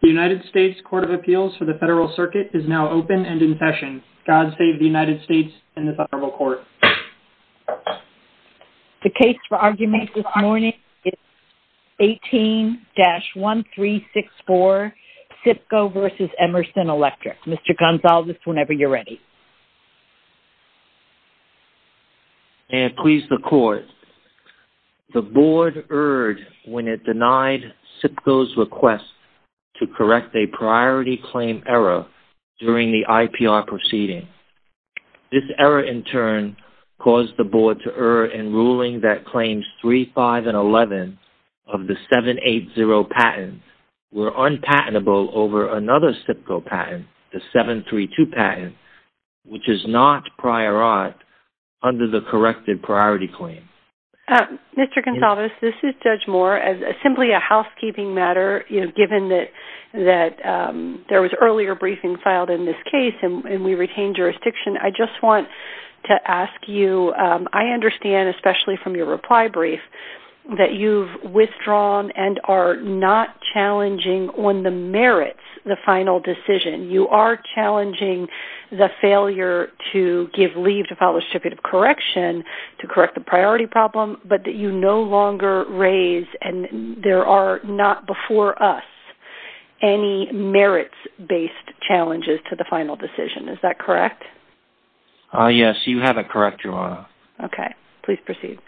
The United States Court of Appeals for the Federal Circuit is now open and in session. God save the United States and this Honorable Court. The case for argument this morning is 18-1364, SIPCO v. Emerson Electric. Mr. Gonzales, whenever you're ready. May it please the Court, the Board erred when it denied SIPCO's request to correct a priority claim error during the IPR proceeding. This error, in turn, caused the Board to err in ruling that claims 3, 5, and 11 of the 732 patent, which is not prior aught, under the corrected priority claim. Mr. Gonzales, this is Judge Moore. As simply a housekeeping matter, given that there was earlier briefing filed in this case and we retain jurisdiction, I just want to ask you, I understand, especially from your reply brief, that you've withdrawn and are not challenging on the merits, the final decision. You are challenging the failure to give leave to file a distributive correction to correct the priority problem, but you no longer raise, and there are not before us, any merits-based challenges to the final decision. Is that correct? Yes, you have it correct, Your Honor. Okay. Please proceed.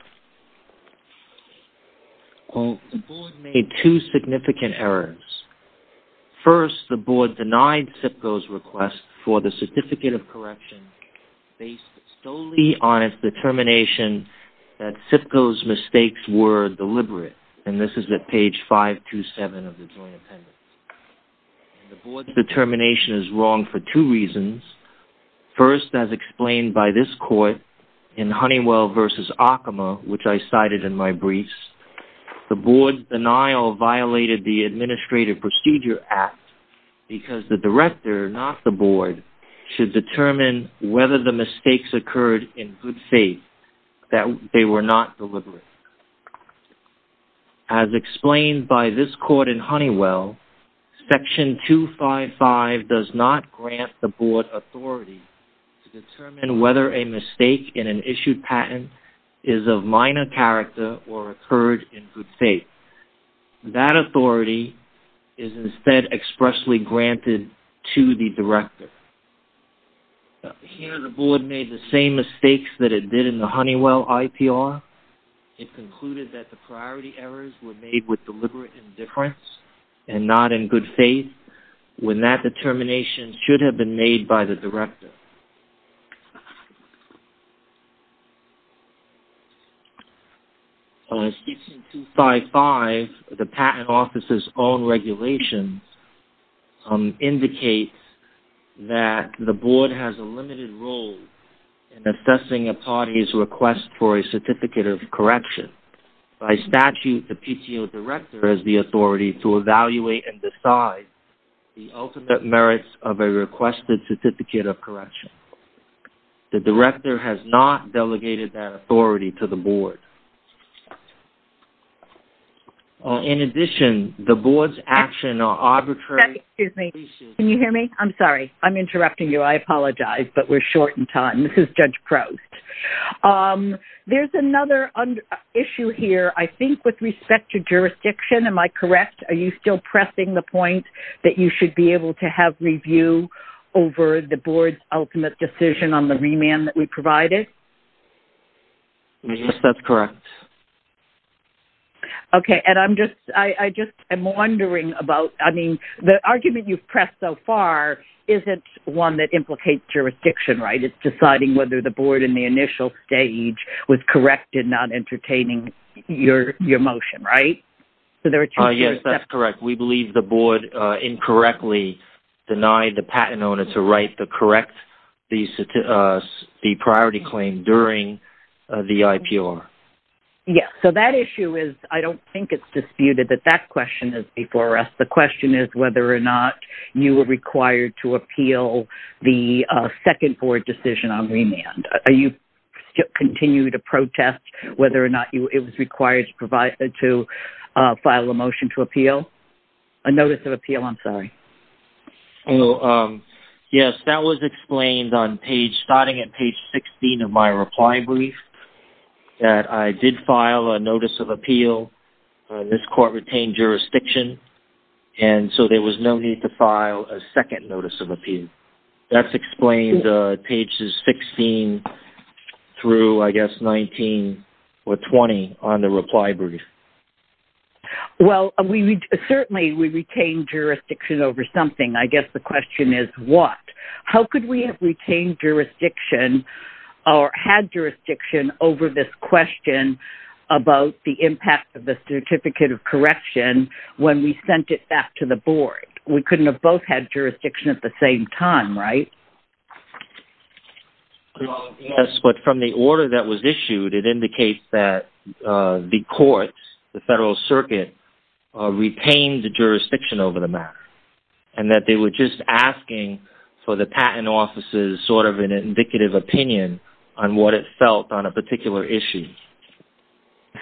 Well, the Board made two significant errors. First, the Board denied SIPCO's request for the certificate of correction based solely on its determination that SIPCO's mistakes were deliberate, and this is at page 527 of the Joint Appendix. The Board's determination is wrong for two reasons. First, as explained by this court in Honeywell v. Akama, which I cited in my briefs, the Board's denial violated the Administrative Procedure Act because the director, not the Board, should determine whether the mistakes occurred in good faith, that they were not deliberate. Second, as explained by this court in Honeywell, Section 255 does not grant the Board authority to determine whether a mistake in an issued patent is of minor character or occurred in good faith. That authority is instead expressly granted to the director. Here, the Board made the same mistakes that it did in the Honeywell IPR. It concluded that the priority errors were made with deliberate indifference and not in good faith, when that determination should have been made by the director. Section 255, the Patent Office's own regulation, indicates that the Board has a limited role in assessing a party's request for a certificate of correction. By statute, the PTO director has the authority to evaluate and decide the ultimate merits of a requested certificate of correction. The director has not delegated that authority to the Board. In addition, the Board's actions are arbitrary… Excuse me. Can you hear me? I'm sorry. I'm interrupting you. I apologize, but we're short in time. This is Judge Proust. There's another issue here, I think, with respect to jurisdiction. Am I correct? Are you still pressing the point that you should be able to have review over the Board's ultimate decision on the remand that we provided? Yes, that's correct. Okay. And I'm just…I'm wondering about…I mean, the argument you've pressed so far isn't one that implicates jurisdiction, right? It's deciding whether the Board, in the initial stage, was correct in not entertaining your motion, right? Yes, that's correct. We believe the Board incorrectly denied the patent owner to write the correct…the priority claim during the IPR. Yes. So that issue is…I don't think it's disputed that that question is before us. The question is whether or not you were required to appeal the second Board decision on remand. Are you…continue to protest whether or not it was required to file a motion to appeal? A notice of appeal, I'm sorry. Yes, that was explained on page…starting at page 16 of my reply brief, that I did file a notice of appeal. This court retained jurisdiction, and so there was no need to file a second 16 through, I guess, 19 or 20 on the reply brief. Well, we…certainly, we retained jurisdiction over something. I guess the question is what? How could we have retained jurisdiction or had jurisdiction over this question about the impact of the Certificate of Correction when we sent it back to the Board? We couldn't have both had jurisdiction at the same time, right? Yes, but from the order that was issued, it indicates that the court, the Federal Circuit, retained the jurisdiction over the matter, and that they were just asking for the Patent Office's sort of indicative opinion on what it felt on a particular issue.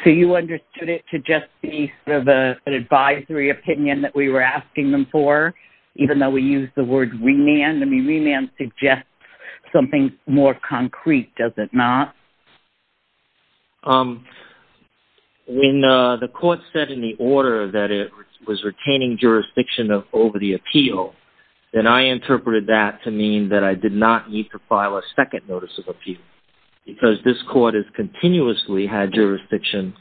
So you understood it to just be sort of an advisory opinion that we were asking them for, even though we used the word remand? I mean, remand suggests something more concrete, does it not? When the court said in the order that it was retaining jurisdiction over the appeal, then I interpreted that to mean that I did not need to file a second notice of appeal, because this court has continuously had jurisdiction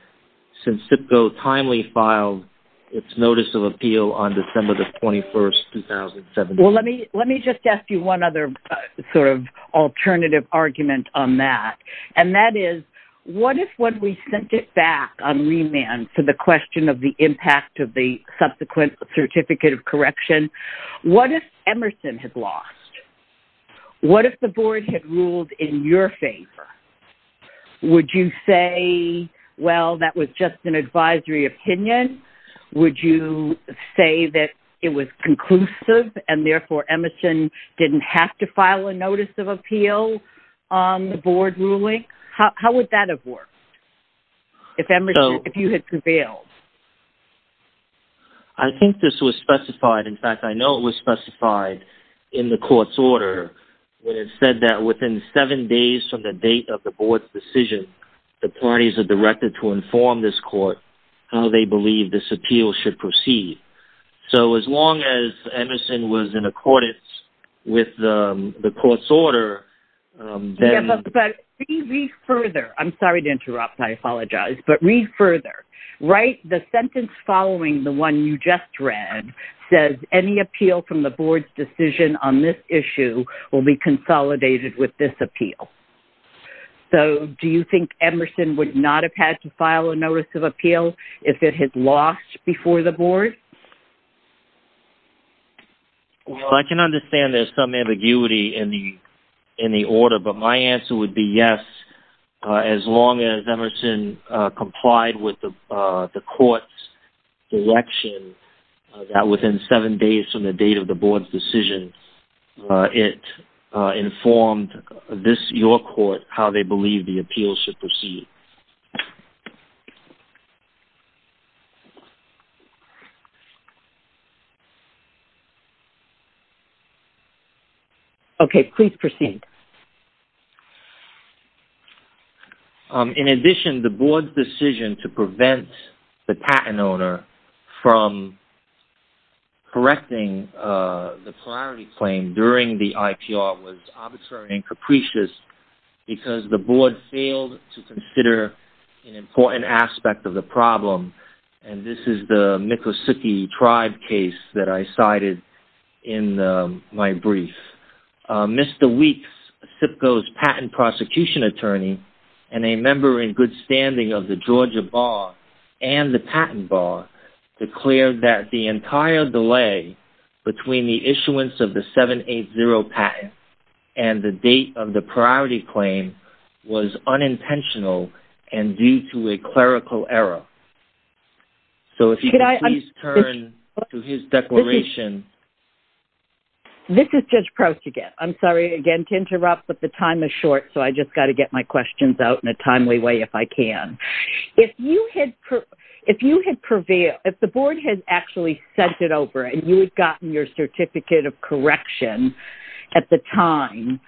since CIPCO timely filed its notice of appeal on December the 21st, 2017. Well, let me just ask you one other sort of alternative argument on that, and that is what if when we sent it back on remand for the question of the impact of the subsequent Certificate of Correction, what if Emerson had lost? What if the Board had ruled in your way that it was conclusive, and therefore Emerson didn't have to file a notice of appeal on the Board ruling? How would that have worked, if you had prevailed? I think this was specified, in fact, I know it was specified in the court's order, where it said that within seven days from the date of the Board's decision, the parties are directed to inform this court how they believe this appeal should proceed. So, as long as Emerson was in accordance with the court's order, then... Yes, but read further. I'm sorry to interrupt. I apologize. But read further. Write the sentence following the one you just read, says, any appeal from the Board's decision on this issue will be consolidated with this appeal. So, do you think Emerson would not have had to file a notice of appeal if it had lost before the Board? Well, I can understand there's some ambiguity in the order, but my answer would be yes, as long as Emerson complied with the court's direction that within seven days from the Board's decision, it informed your court how they believe the appeal should proceed. Okay, please proceed. In addition, the Board's decision to prevent the patent owner from correcting the appeal prior to the priority claim during the IPR was arbitrary and capricious because the Board failed to consider an important aspect of the problem, and this is the Miccosukee Tribe case that I cited in my brief. Mr. Weeks, SIPCO's patent prosecution attorney, and a member in good standing of the Georgia Bar and the Patent Bar, declared that the entire delay between the issuance of the 780 patent and the date of the priority claim was unintentional and due to a clerical error. So, if you could please turn to his declaration. This is Judge Proust again. I'm sorry again to interrupt, but the time is short, so I just got to get my questions out in a timely way if I can. If you had prevailed, if the IPR was over and you had gotten your Certificate of Correction at the time,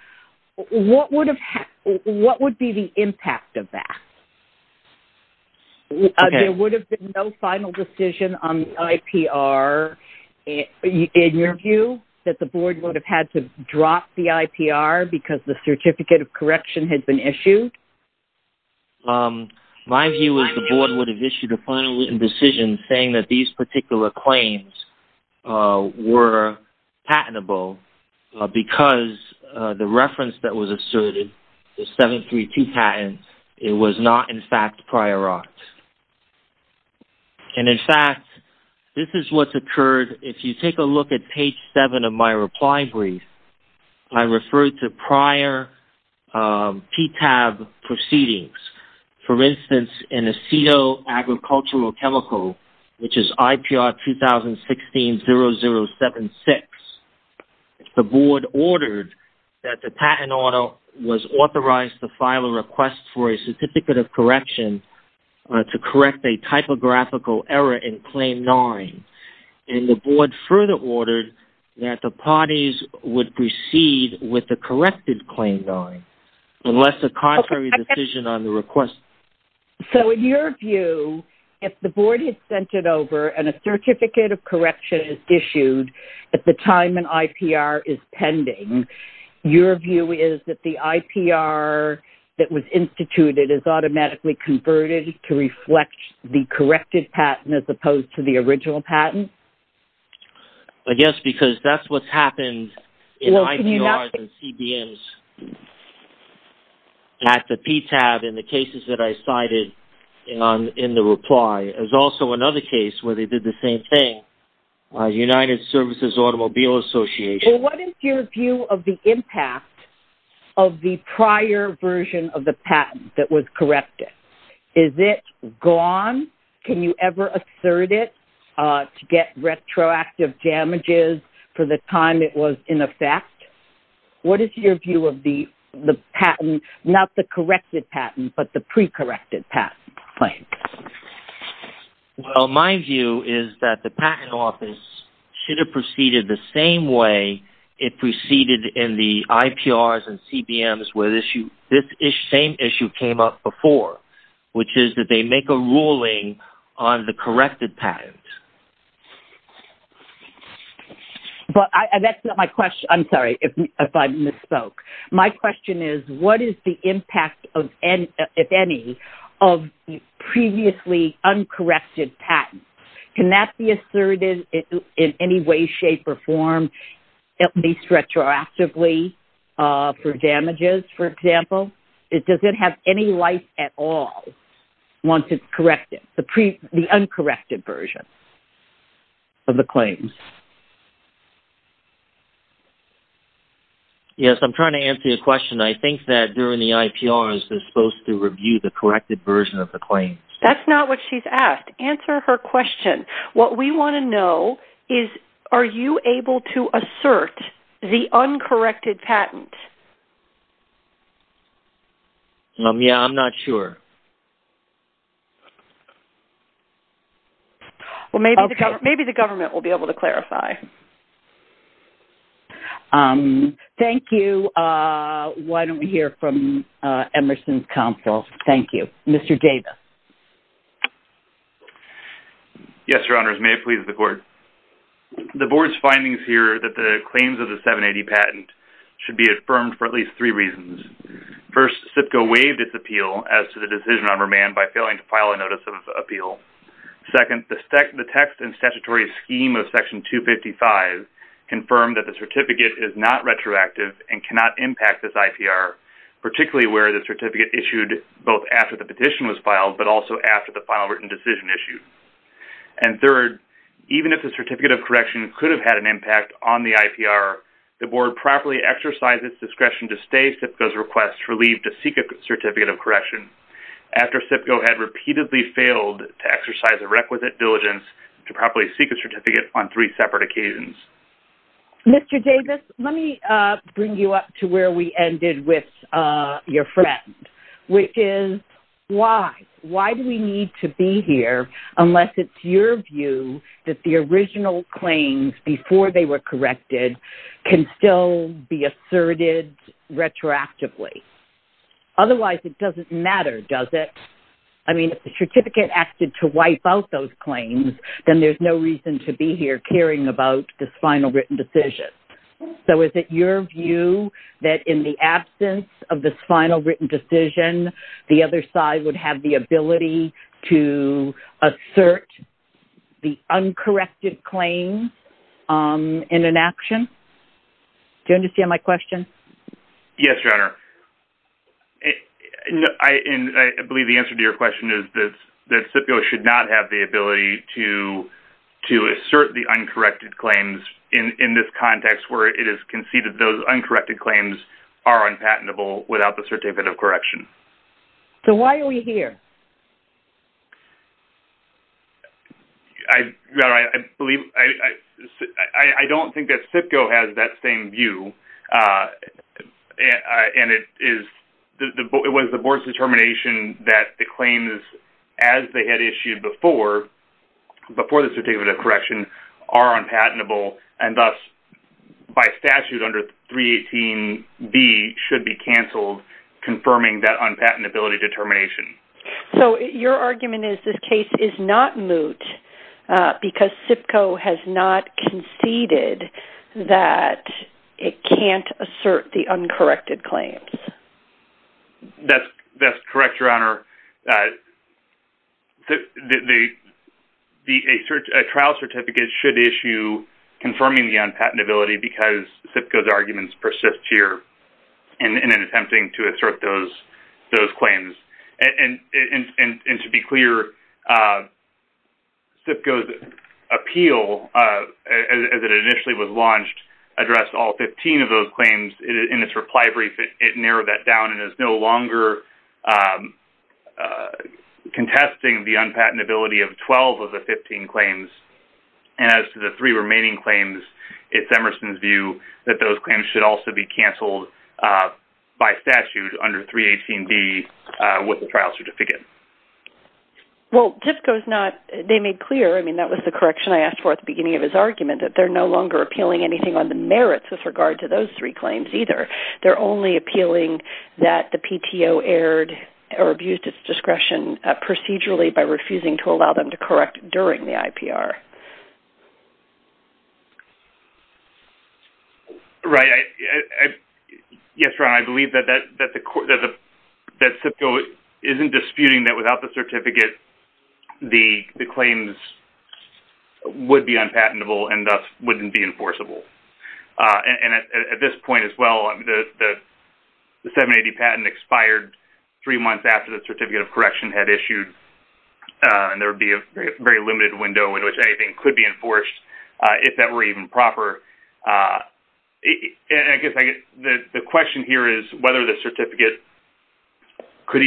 what would be the impact of that? There would have been no final decision on the IPR. In your view, that the Board would have had to drop the IPR because the Certificate of Correction had been issued? My view is the Board would have issued a final decision saying that these particular claims were patentable because the reference that was asserted, the 732 patent, it was not in fact prior art. And in fact, this is what's occurred. If you take a look at page 7 of my reply brief, I referred to prior PTAB proceedings. For instance, in Aceto Agricultural Chemical, which is IPR 2016-0076, the Board ordered that the patent author was authorized to file a request for a Certificate of Correction to correct a typographical error in Claim 9. And the Board further ordered that the parties would proceed with the corrected Claim 9 unless a contrary decision on the request. So in your view, if the Board had sent it over and a Certificate of Correction is issued at the time an IPR is pending, your view is that the IPR that was instituted is automatically converted to reflect the corrected patent as opposed to the original patent? I guess because that's what's happened in IPRs and CBMs at the PTAB in the cases that I cited in the reply. There's also another case where they did the same thing, United Services Automobile Association. What is your view of the impact of the prior version of the patent that was corrected? Is it gone? Can you ever assert it to get retroactive damages for the time it was in effect? What is your view of the patent, not the corrected patent, but the pre-corrected patent claim? Well, my view is that the Patent Office should have proceeded the same way it proceeded in the IPRs and CBMs where this same issue came up before, which is that they make a ruling on the corrected patent. But that's not my question. I'm sorry if I misspoke. My question is, what is the impact of, if any, of previously uncorrected patents? Can that be asserted in any way, shape, or form, for damages, for example? Does it have any life at all once it's corrected, the uncorrected version of the claims? Yes, I'm trying to answer your question. I think that during the IPRs, they're supposed to review the corrected version of the claims. That's not what she's asked. Answer her question. What we want to know is, are you able to assert the uncorrected patent? Yeah, I'm not sure. Well, maybe the government will be able to clarify. Thank you. Why don't we hear from Emerson's counsel? Thank you. Mr. Davis. Yes, Your Honors. May it please the Court. The Board's findings here that the claims of the 780 patent should be affirmed for at least three reasons. First, SIPCA waived its appeal as to the decision on remand by failing to file a notice of appeal. Second, the text and statutory scheme of Section 255 confirmed that the certificate is not retroactive and cannot impact this IPR, particularly where the certificate issued both after the petition was filed but also after the final written decision issued. And third, even if the certificate of correction could have had an impact on the IPR, the Board properly exercised its discretion to stay SIPCA's request for leave to seek a certificate of correction after SIPCA had repeatedly failed to exercise the requisite diligence to properly seek a certificate on three separate occasions. Mr. Davis, let me bring you up to where we ended with your friend, which is, why? Why do we need to be here unless it's your view that the original claims before they were corrected can still be asserted retroactively? Otherwise, it doesn't matter, does it? I mean, if the certificate acted to wipe out those claims, then there's no reason to be here caring about this final written decision. So is it your view that in the absence of this final written decision, the other side would have the ability to assert the uncorrected claims in an action? Do you understand my question? Yes, Your Honor. I believe the answer to your question is that SIPCO should not have the uncorrected claims in this context where it is conceded those uncorrected claims are unpatentable without the certificate of correction. So why are we here? Your Honor, I don't think that SIPCO has that same view. It was the Board's determination that the claims as they had issued before the certificate of correction are unpatentable and thus by statute under 318B should be canceled confirming that unpatentability determination. So your argument is this case is not moot because SIPCO has not conceded that it can't correct. Correct, Your Honor. A trial certificate should issue confirming the unpatentability because SIPCO's arguments persist here in attempting to assert those claims. And to be clear, SIPCO's appeal as it initially was launched addressed all 15 of those claims. In its reply brief, it narrowed that down and is no longer contesting the unpatentability of 12 of the 15 claims. And as to the three remaining claims, it's Emerson's view that those claims should also be canceled by statute under 318B with the trial certificate. Well, SIPCO's not, they made clear, I mean that was the correction I asked for at the beginning of his argument, that they're no longer appealing anything on the merits with regard to those three claims either. They're only appealing that the PTO erred or abused its discretion procedurally by refusing to allow them to correct during the IPR. Right. Yes, Your Honor, I believe that SIPCO isn't disputing that without the certificate the claims would be unpatentable and thus wouldn't be enforceable. And at this point as well, the 780 patent expired three months after the certificate of correction had issued. And there would be a very limited window in which anything could be enforced if that were even proper. And I guess the question here is whether the PTO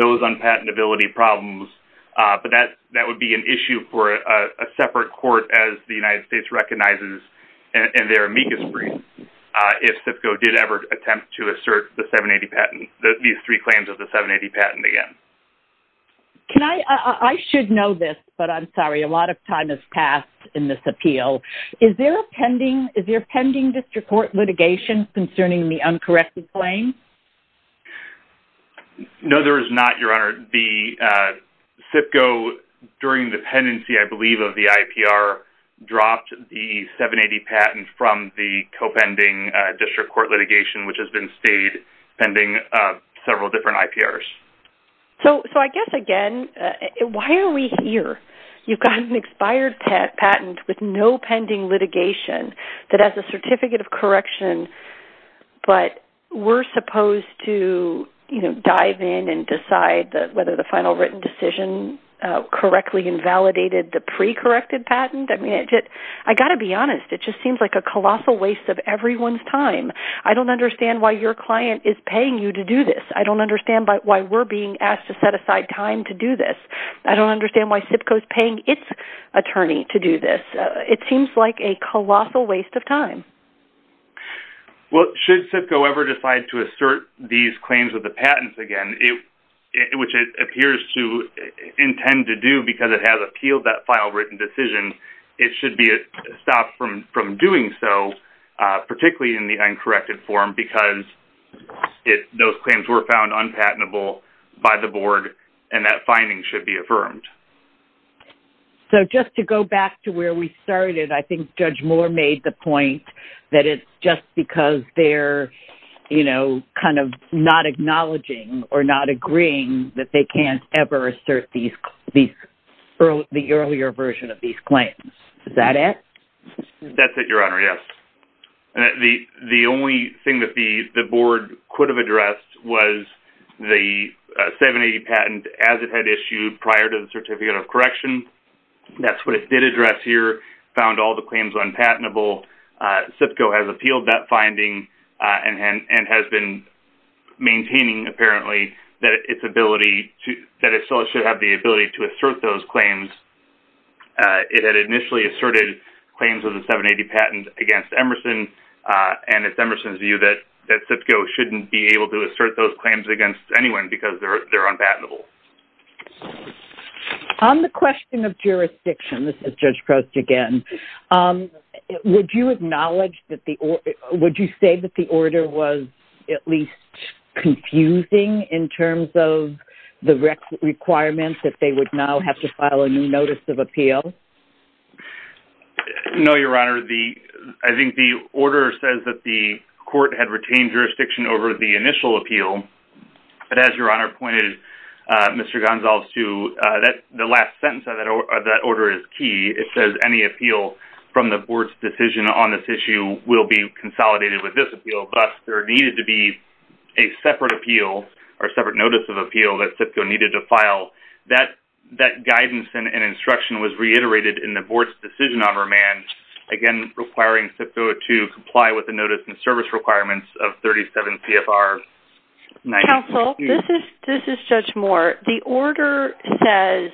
has any accountability problems. But that would be an issue for a separate court as the United States recognizes in their amicus brief if SIPCO did ever attempt to assert the 780 patent, these three claims of the 780 patent again. Can I, I should know this, but I'm sorry, a lot of time has passed in this appeal. Is there a pending, is there pending district court litigation concerning the uncorrected claim? No, there is not, Your Honor. The SIPCO during the pendency, I believe, of the IPR dropped the 780 patent from the co-pending district court litigation, which has been stayed pending several different IPRs. So I guess again, why are we here? You've got an expired patent with no pending litigation that has a certificate of correction, but we're supposed to, you know, dive in and decide whether the final written decision correctly invalidated the pre-corrected patent. I mean, I got to be honest. It just seems like a colossal waste of everyone's time. I don't understand why your client is paying you to do this. I don't understand why we're being asked to set aside time to do this. I don't understand why SIPCO is paying its attorney to do this. It seems like a colossal waste of time. Well, should SIPCO ever decide to assert these claims with the patents again, which it appears to intend to do because it has appealed that final written decision, it should be stopped from doing so, particularly in the uncorrected form, because those claims were found unpatentable by the board and that finding should be affirmed. So just to go back to where we started, I just because they're, you know, kind of not acknowledging or not agreeing that they can't ever assert the earlier version of these claims. Is that it? That's it, Your Honor. Yes. The only thing that the board could have addressed was the 780 patent as it had issued prior to the certificate of correction. That's what it did found all the claims unpatentable. SIPCO has appealed that finding and has been maintaining apparently that it's ability to that it still should have the ability to assert those claims. It had initially asserted claims of the 780 patent against Emerson and it's Emerson's view that SIPCO shouldn't be able to assert those claims against anyone because they're unpatentable. On the question of jurisdiction, this is Judge Prost again. Would you acknowledge that the, would you say that the order was at least confusing in terms of the requirements that they would now have to file a new notice of appeal? No, Your Honor. The, I think the order says that the court had retained jurisdiction over the Mr. Gonsalves to, that the last sentence of that order is key. It says any appeal from the board's decision on this issue will be consolidated with this appeal. Thus, there needed to be a separate appeal or separate notice of appeal that SIPCO needed to file. That, that guidance and instruction was reiterated in the board's decision on remand. Again, requiring SIPCO to comply with the notice and service requirements of 37 CFR. Counsel, this is, this is Judge Moore. The order says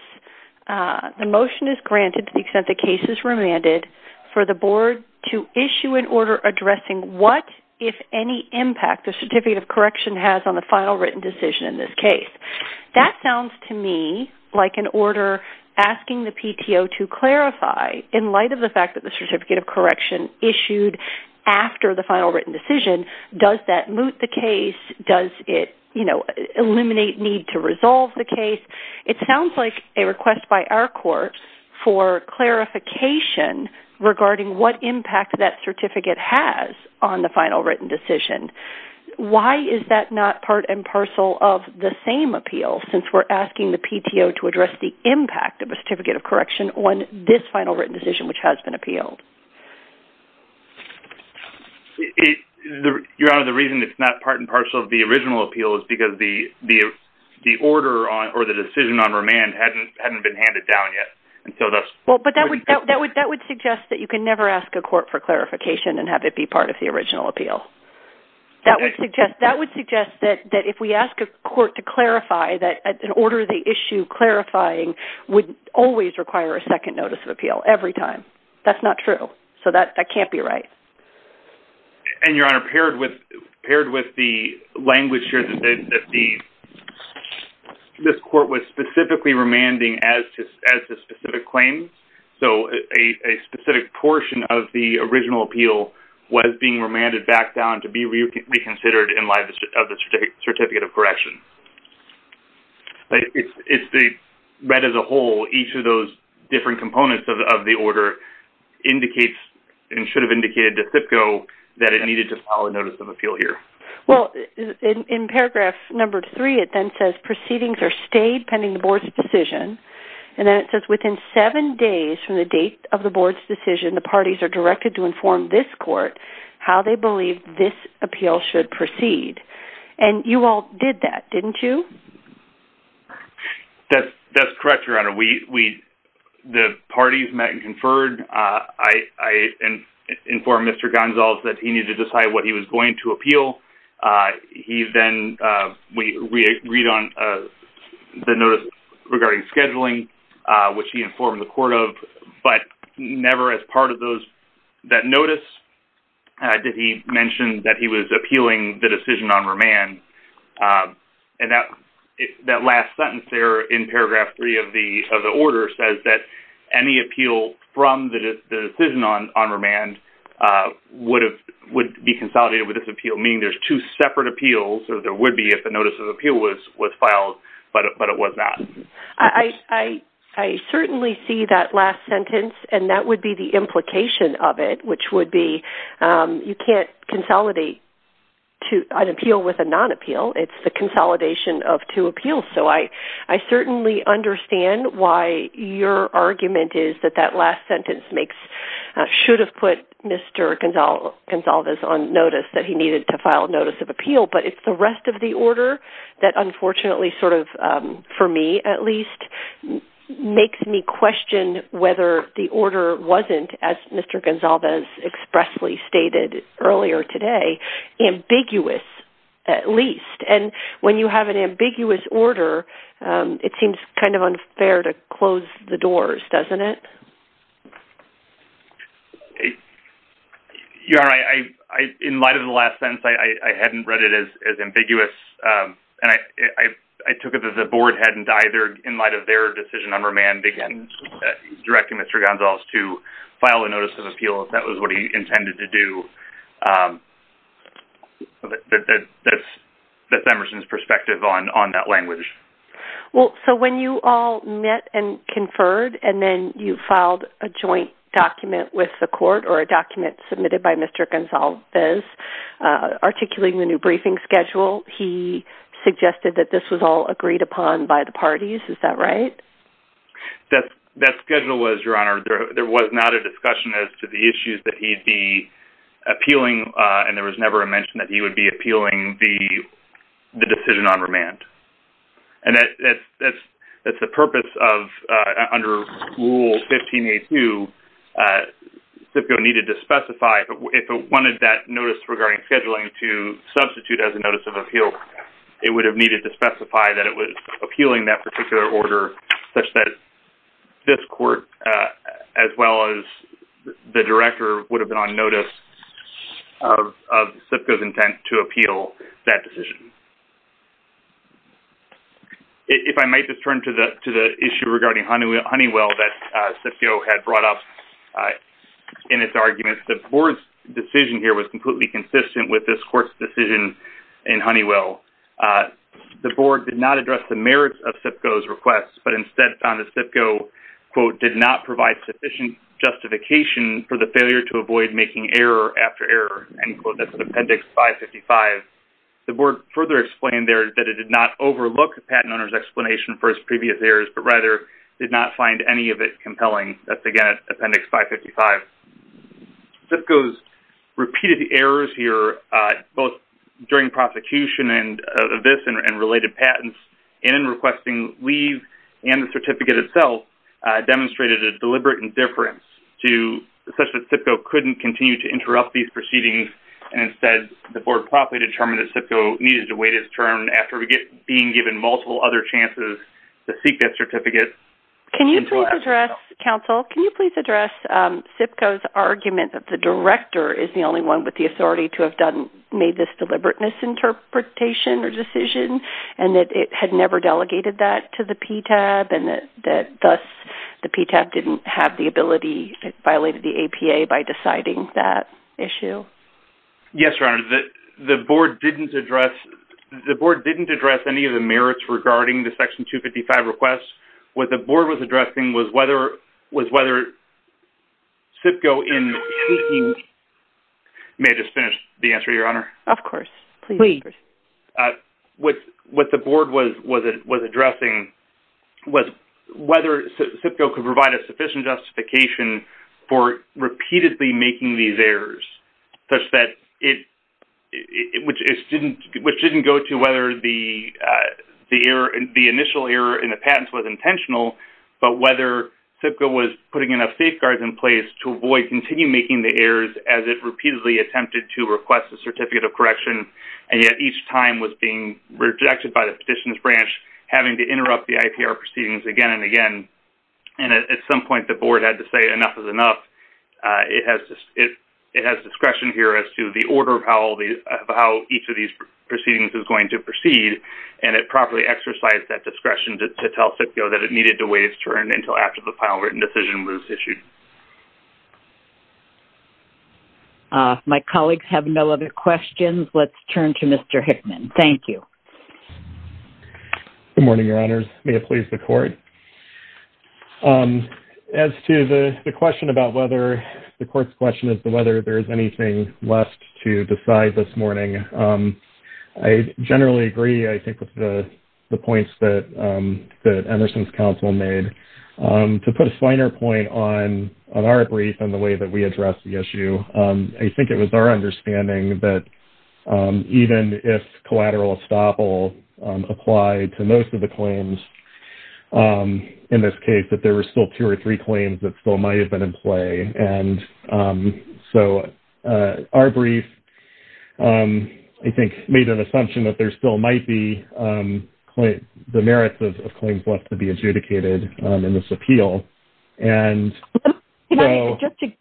the motion is granted to the extent the case is remanded for the board to issue an order addressing what, if any, impact the certificate of correction has on the final written decision in this case. That sounds to me like an order asking the PTO to clarify in light of the fact that the certificate of correction issued after the final written decision, does that moot the case? Does it, you know, eliminate need to resolve the case? It sounds like a request by our court for clarification regarding what impact that certificate has on the final written decision. Why is that not part and parcel of the same appeal since we're asking the PTO to address the impact of a certificate of correction on this final written decision, which has been appealed? It, Your Honor, the reason it's not part and parcel of the original appeal is because the, the, the order on, or the decision on remand hadn't, hadn't been handed down yet. And so that's, Well, but that would, that would, that would suggest that you can never ask a court for clarification and have it be part of the original appeal. That would suggest, that would suggest that, that if we ask a court to clarify that an order, the issue clarifying would always require a second notice of appeal every time. That's not true. So that, that can't be right. And Your Honor, paired with, paired with the language here, that the, this court was specifically remanding as to, as to specific claims. So a specific portion of the original appeal was being remanded back down to be reconsidered in light of the certificate of correction. It's, it's the, read as a whole, each of those different components of the, of the order indicates and should have indicated to CIPCO that it needed to file a notice of appeal here. Well, in, in paragraph number three, it then says proceedings are stayed pending the board's decision. And then it says within seven days from the date of the board's decision, the parties are directed to inform this court how they believe this appeal should proceed. And you all did that, didn't you? That's, that's correct, Your Honor. We, we, the parties met and conferred. I, I informed Mr. Gonsalves that he needed to decide what he was going to appeal. He then, we agreed on the notice regarding scheduling, which he informed the court of, but never as part of those, that notice. Did he mention that he was appealing the decision on remand? And that, that last sentence there in paragraph three of the, of the order says that any appeal from the decision on, on remand would have, would be consolidated with this appeal, meaning there's two separate appeals, or there would be if the notice of appeal was, was filed, but, but it was not. I, I, I certainly see that last sentence and that would be the implication of it, which would be you can't consolidate two, an appeal with a non-appeal. It's the consolidation of two appeals. So I, I certainly understand why your argument is that that last sentence makes, should have put Mr. Gonsalves on notice that he needed to file a notice of appeal, but it's the rest of the order that unfortunately sort of, for me at least, makes me question whether the order wasn't, as Mr. Gonsalves expressly stated earlier today, ambiguous at least. And when you have an ambiguous order, it seems kind of unfair to close the doors, doesn't it? Yeah, I, I, in light of the last sentence, I, I hadn't read it as, as ambiguous. And I, I, I took it that the board hadn't either, in light of their decision on remand, again, directing Mr. Gonsalves to file a notice of appeal if that was what he intended to do. That's, that's Emerson's perspective on, on that language. Well, so when you all met and conferred, and then you filed a joint document with the court, or a document submitted by Mr. Gonsalves, articulating the new briefing schedule, he suggested that this was all agreed upon by the parties, is that right? That, that schedule was, Your Honor, there, there was not a discussion as to the issues that he'd be appealing, and there was never a mention that he would be appealing the, the decision on remand. And that, that's, that's, that's the purpose of, under Rule 15.82, SIPCO needed to specify if it wanted that notice regarding scheduling to substitute as a notice of appeal, it would have needed to specify that it was appealing that particular order, such that this court, as well as the director, would have been on notice of, of SIPCO's intent to appeal that decision. If I might just turn to the, to the issue regarding Honeywell, that SIPCO had brought up in its arguments, the board's decision here was completely consistent with this court's decision in Honeywell. The board did not address the merits of SIPCO's request, but instead found that SIPCO, quote, did not provide sufficient justification for the failure to avoid making error after error, end quote, that's in Appendix 555. The board further explained there that it did not overlook the patent owner's explanation for his previous errors, but rather did not find any of it in Appendix 555. SIPCO's repeated errors here, both during prosecution and this, and related patents, and in requesting leave, and the certificate itself, demonstrated a deliberate indifference to, such that SIPCO couldn't continue to interrupt these proceedings, and instead, the board promptly determined that SIPCO needed to wait its turn after we get, being given multiple other chances to seek that certificate. Can you please address, counsel, can you please address SIPCO's argument that the director is the only one with the authority to have done, made this deliberate misinterpretation or decision, and that it had never delegated that to the PTAB, and that thus, the PTAB didn't have the ability, it violated the APA by deciding that issue? Yes, Your Honor, the board didn't address, the board didn't address any of the merits regarding the Section 255 requests. What the board was addressing was whether, was whether SIPCO in seeking, may I just finish the answer, Your Honor? Of course, please. What the board was, was, was addressing was whether SIPCO could provide a sufficient justification for repeatedly making these errors, such that it, which didn't, which didn't go to whether the, the error, the initial error in the patents was intentional, but whether SIPCO was putting enough safeguards in place to avoid, continue making the errors as it repeatedly attempted to request a certificate of correction, and yet each time was being rejected by the Petitions Branch, having to interrupt the IPR proceedings again and again, and at some point, the board had to say enough is enough. It has discretion here as to the order of how each of these proceedings is going to proceed, and it properly exercised that discretion to tell SIPCO that it needed to wait its turn until after the final written decision was issued. My colleagues have no other questions. Let's turn to Mr. Hickman. Thank you. Good morning, Your Honors. May it please the Court. As to the, the question about whether, the Court's question as to whether there is anything left to decide this morning, I generally agree, I think, with the, the points that, that Emerson's counsel made. To put a finer point on, on our brief and the way that we address the issue, I think it was our understanding that even if collateral estoppel applied to most of the claims in this case, that there were still two or three claims that still might have been in play, and so our brief, I think, made an assumption that there still might be the merits of, of claims left to be adjudicated in this appeal, and so- Just a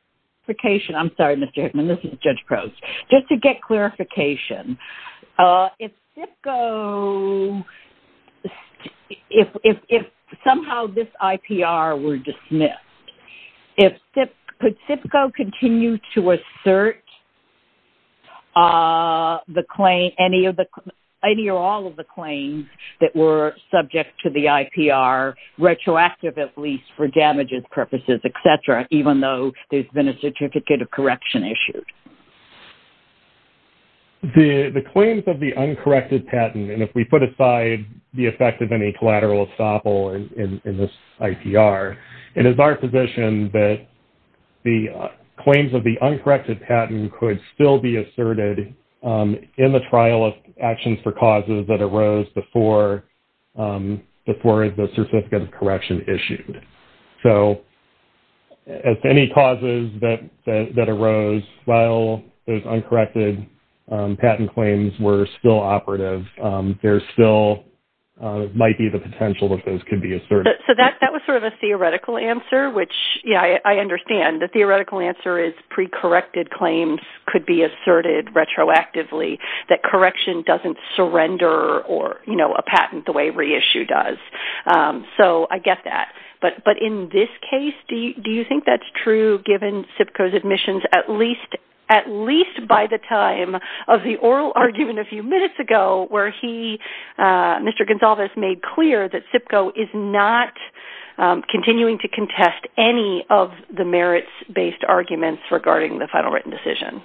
clarification. I'm sorry, Mr. Hickman. This is Judge Crouse. Just to get clarification, if SIPCO, if, if, if somehow this IPR were dismissed, if SIP, could SIPCO continue to assert the claim, any of the, any or all of the claims that were subject to the IPR, retroactive at least for damages purposes, etc., even though there's been a certificate of correction issued? The, the claims of the uncorrected patent, and if we put aside the effect of any collateral estoppel in, in, in this IPR, it is our position that the claims of the uncorrected patent could still be asserted in the trial of actions for correction issued. So if any causes that, that arose while those uncorrected patent claims were still operative, there still might be the potential that those could be asserted. So that, that was sort of a theoretical answer, which, yeah, I, I understand. The theoretical answer is pre-corrected claims could be asserted retroactively, that correction doesn't surrender or, you know, a patent the way reissue does. So I get that. But, but in this case, do you, do you think that's true given SIPCO's admissions at least, at least by the time of the oral argument a few minutes ago where he, Mr. Gonsalves made clear that SIPCO is not continuing to contest any of the merits-based arguments regarding the final written decision?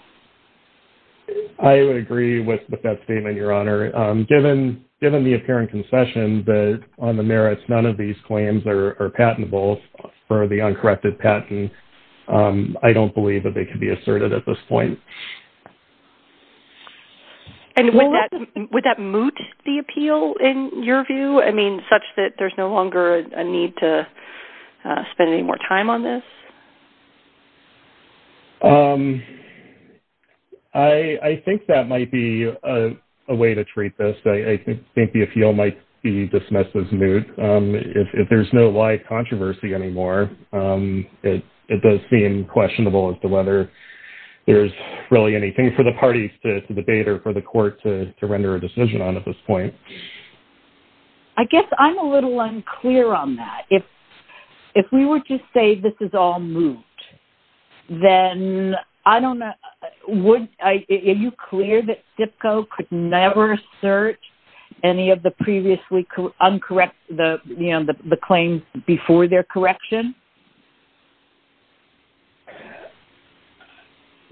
I would agree with that statement, Your Honor. Given, given the apparent concession that on the merits, none of these claims are patentable for the uncorrected patent, I don't believe that they could be asserted at this point. And would that, would that moot the appeal in your view? I mean, such that there's no longer a need to spend any more time on this? Um, I, I think that might be a way to treat this. I think the appeal might be dismissed as moot. Um, if there's no live controversy anymore, um, it, it does seem questionable as to whether there's really anything for the parties to debate or for the court to, to render a decision on at this point. I guess I'm a little unclear on that. If, if we were to say this is all moot, then I don't know, would I, are you clear that SIPCO could never assert any of the previously uncorrected, the, you know, the, the claims before their correction?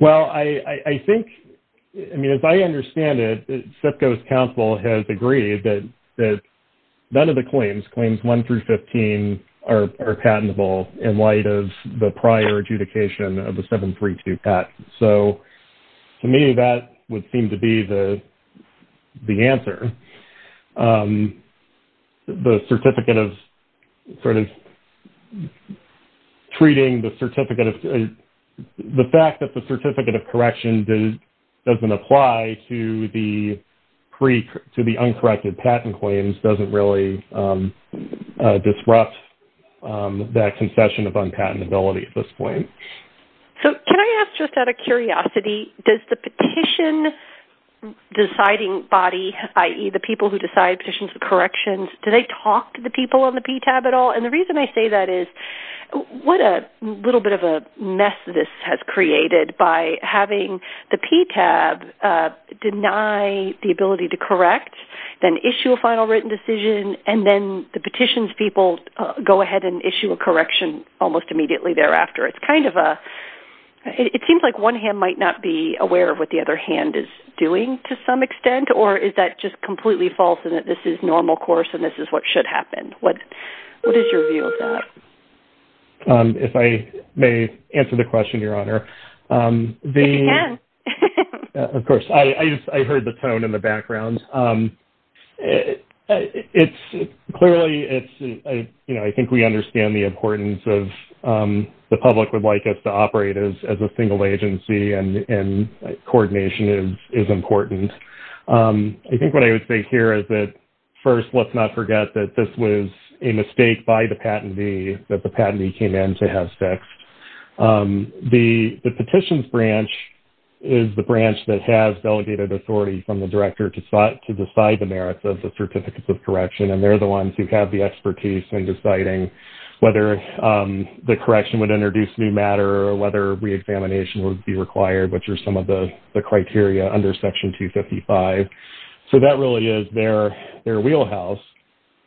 Well, I, I think, I mean, as I understand it, SIPCO's counsel has agreed that, that none of the claims, claims one through 15 are, are patentable in light of the prior adjudication of the 732 patent. So to me, that would seem to be the, the answer. Um, the certificate of sort of treating the certificate of, the fact that the certificate of correction doesn't apply to the pre, to the uncorrected patent claims doesn't really, um, uh, disrupt, um, that concession of unpatentability at this point. So can I ask just out of curiosity, does the petition deciding body, i.e. the people who decide petitions for corrections, do they talk to the people on the PTAB at all? And the reason I say that is, what a little bit of a mess this has created by having the PTAB, uh, deny the ability to correct, then issue a final written decision, and then the petitions people go ahead and issue a correction almost immediately thereafter. It's kind of a, it seems like one hand might not be aware of what the other hand is doing to some extent, or is that just completely false in that this is normal course, and this is what should happen? What, what is your view of that? Um, if I may answer the question, Your Honor, um, the, of course, I, I just, I heard the tone in the background. Um, it, it's clearly, it's, I, you know, I think we understand the importance of, um, the public would like us to operate as, as a single agency and, and coordination is, is important. Um, I think what I would say here is that, first, let's not forget that this was a mistake by the patentee, that the patentee came in to have sex. Um, the, the petitions branch is the branch that has delegated authority from the director to, to decide the merits of the certificates of correction, and they're the ones who have the expertise in deciding whether, um, the correction would introduce new matter, or whether reexamination would be required, which are some of the, the criteria under Section 255. So, that really is their, their wheelhouse.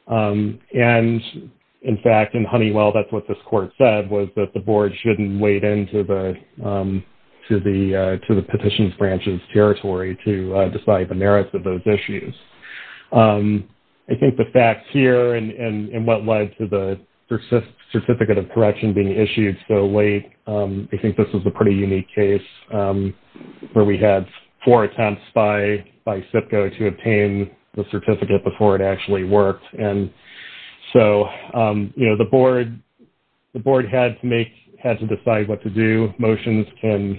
Um, and, in fact, in Honeywell, that's what this court said, was that the board shouldn't wade into the, um, to the, uh, to the petitions branch's territory to, uh, decide the merits of those issues. Um, I think the facts here and, and, and what led to the certificate of correction being where we had four attempts by, by SIPCO to obtain the certificate before it actually worked. And so, um, you know, the board, the board had to make, had to decide what to do. Motions can,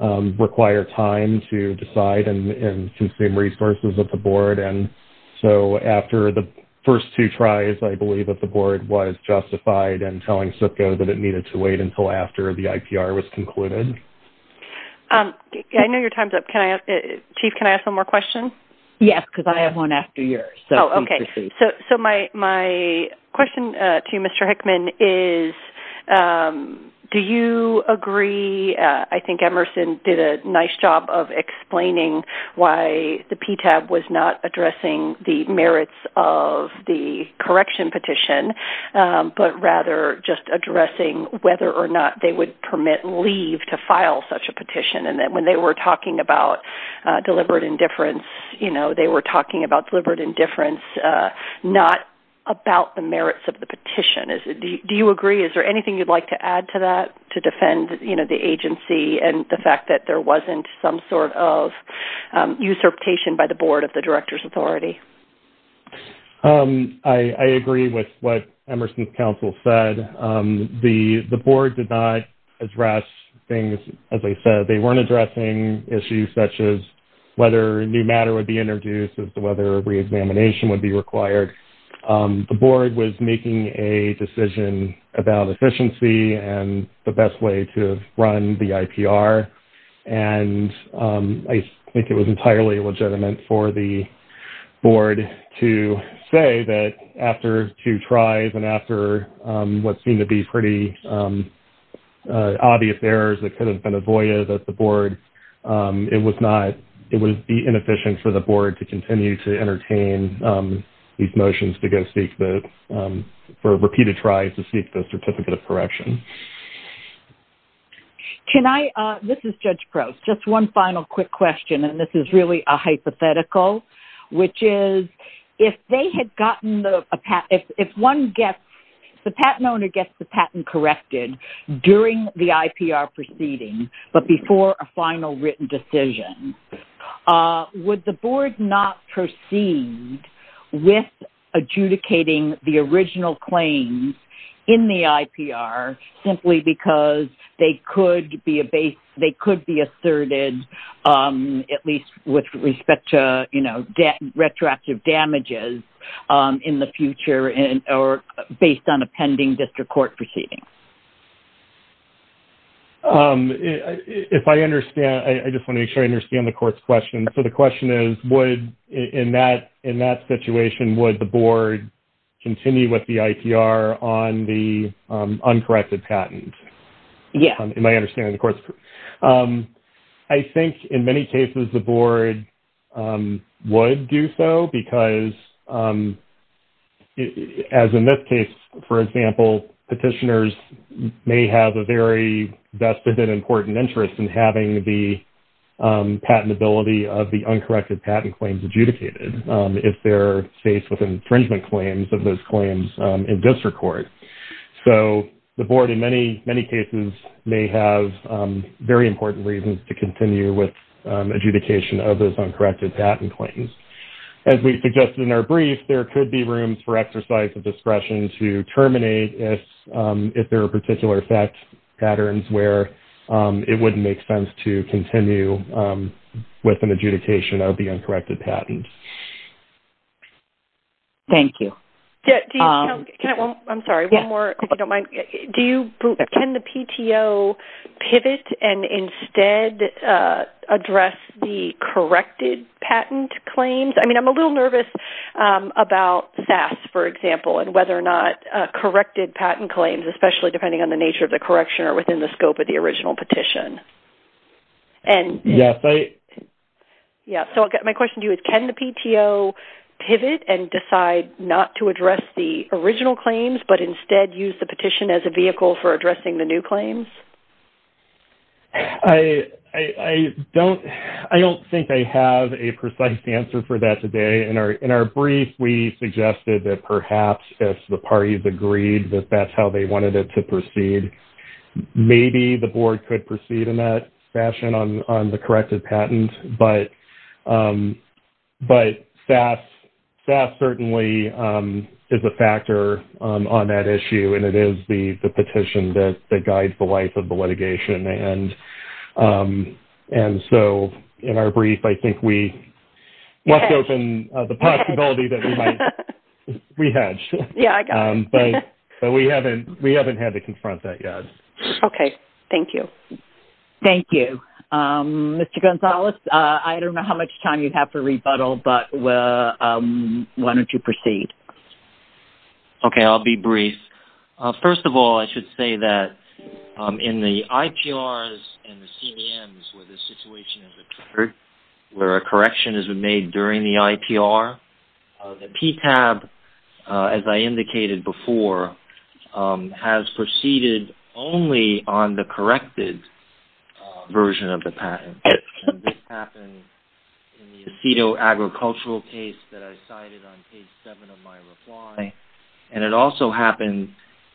um, require time to decide and, and consume resources of the board. And so, after the first two tries, I believe that the board was justified in telling SIPCO that it needed to wait until after the IPR was concluded. Um, I know your time's up. Can I, Chief, can I ask one more question? Yes, because I have one after yours. Oh, okay. So, so my, my question, uh, to you, Mr. Hickman, is, um, do you agree, uh, I think Emerson did a nice job of explaining why the PTAB was not addressing the merits of the correction petition, um, but rather just addressing whether or not they would permit leave to file such a petition. And then when they were talking about, uh, deliberate indifference, you know, they were talking about deliberate indifference, uh, not about the merits of the petition. Is it, do you agree? Is there anything you'd like to add to that to defend, you know, the agency and the fact that there wasn't some sort of, um, usurpation by the board of the director's authority? Um, I, I agree with what Emerson's counsel said. Um, the, the board did not address things, as I said, they weren't addressing issues such as whether new matter would be introduced as to whether re-examination would be required. Um, the board was making a decision about efficiency and the best way to run the IPR. And, um, I think it was entirely legitimate for the board to say that after two tries and after, um, what seemed to be pretty, um, uh, obvious errors that could have been avoided at the board, um, it was not, it would be inefficient for the board to continue to entertain, um, these motions to go seek the, um, for repeated tries to seek the certificate of correction. Can I, uh, this is Judge Gross, just one final quick question, and this is really a hypothetical, which is if they had gotten the, a patent, if, if one gets, if the patent owner gets the patent corrected during the IPR proceeding, but before a final written decision, uh, would the board not proceed with adjudicating the original claims in the IPR simply because they could be a base, they could be asserted, um, at least with respect to, you know, retroactive damages, um, in the future and, or based on a pending district court proceeding? Um, if I understand, I just want to make sure I understand the court's question. So, the question is would, in that, in that situation, would the board continue with the IPR on the, um, uncorrected patent? Yeah. In my understanding, of course. Um, I think in many cases the board, um, would do so because, um, as in this case, for example, petitioners may have a very vested and important interest in having the, um, patent ability of the uncorrected patent claims adjudicated, um, if they're faced with infringement of those claims, um, in district court. So, the board in many, many cases may have, um, very important reasons to continue with, um, adjudication of those uncorrected patent claims. As we suggested in our brief, there could be rooms for exercise of discretion to terminate if, um, if there are particular effect patterns where, um, it wouldn't make sense to continue, um, with an adjudication of the uncorrected patent. Thank you. Yeah. Do you... Can I... I'm sorry. One more, if you don't mind. Do you... Can the PTO pivot and instead, uh, address the corrected patent claims? I mean, I'm a little nervous, um, about SAS, for example, and whether or not, uh, corrected patent claims, especially depending on the nature of the correction or within the scope of the original petition. And... Yes, I... Yeah. So, my question to you is, can the PTO pivot and decide not to address the original claims, but instead, use the petition as a vehicle for addressing the new claims? I... I don't... I don't think I have a precise answer for that today. In our... In our brief, we suggested that perhaps if the parties agreed that that's how they wanted it to proceed, maybe the board could proceed in that fashion on... on the corrected patent. But, um, but SAS... SAS certainly, um, is a factor, um, on that issue, and it is the... the petition that... that guides the life of the litigation. And, um, and so, in our brief, I think we left open, uh, the possibility that we might... We hedged. Yeah, I got it. But... But we haven't... We haven't had to confront that yet. Okay. Thank you. Thank you. Um, Mr. Gonzalez, uh, I don't know how much time you have for rebuttal, but, uh, um, why don't you proceed? Okay. I'll be brief. Uh, first of all, I should say that, um, in the IPRs and the CDMs where the patent has been reviewed before, um, has proceeded only on the corrected, uh, version of the patent. And this happened in the Aceto Agricultural case that I cited on page 7 of my reply. And it also happened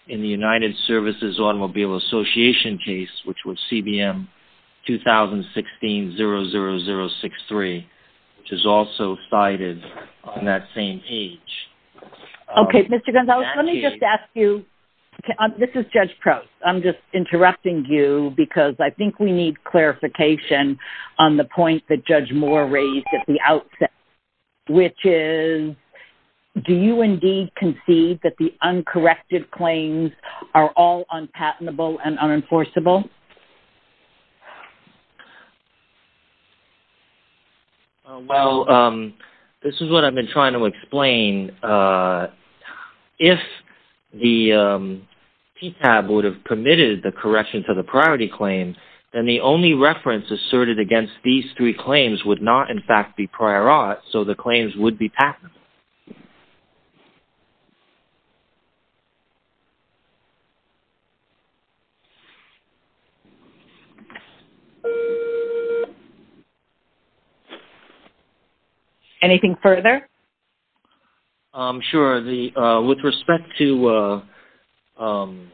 in the United Services Automobile Association case, which was CBM-2016-00063, which is also cited on that same page. Okay. Mr. Gonzalez, let me just ask you... This is Judge Prost. I'm just interrupting you because I think we need clarification on the point that Judge Moore raised at the outset, which is, do you indeed concede that the uncorrected claims are all unpatentable and unenforceable? Well, um, this is what I've been trying to explain. Uh, if the, um, PTAB would have permitted the correction to the priority claim, then the only reference asserted against these three claims would not, in fact, be prior art, so the claims would be patentable. Anything further? Um, sure. The, uh, with respect to, uh, um,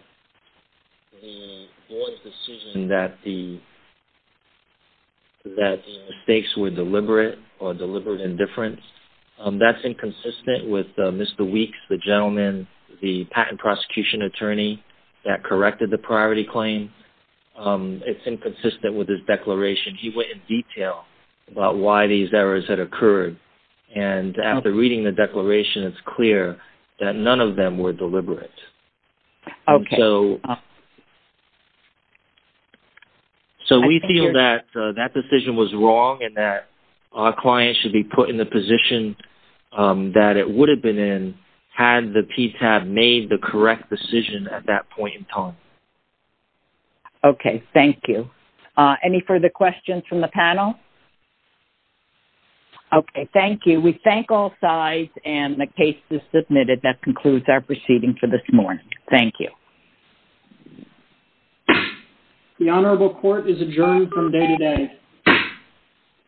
the board's decision that the, that the mistakes were deliberate or deliberate indifference, um, that's inconsistent with, uh, Mr. Weeks, the gentleman, the patent prosecution attorney that corrected the priority claim. Um, it's inconsistent with his declaration. He went in detail about why these errors had occurred, and after reading the declaration, it's clear that none of them were deliberate. Okay. So, so we feel that, uh, that decision was wrong and that our client should be put in the position, um, that it would have been in had the PTAB made the correct decision at that point in time. Thank you. Uh, any further questions from the panel? Okay. Thank you. We thank all sides, and the case is submitted. That concludes our proceeding for this morning. Thank you. The honorable court is adjourned from day to day.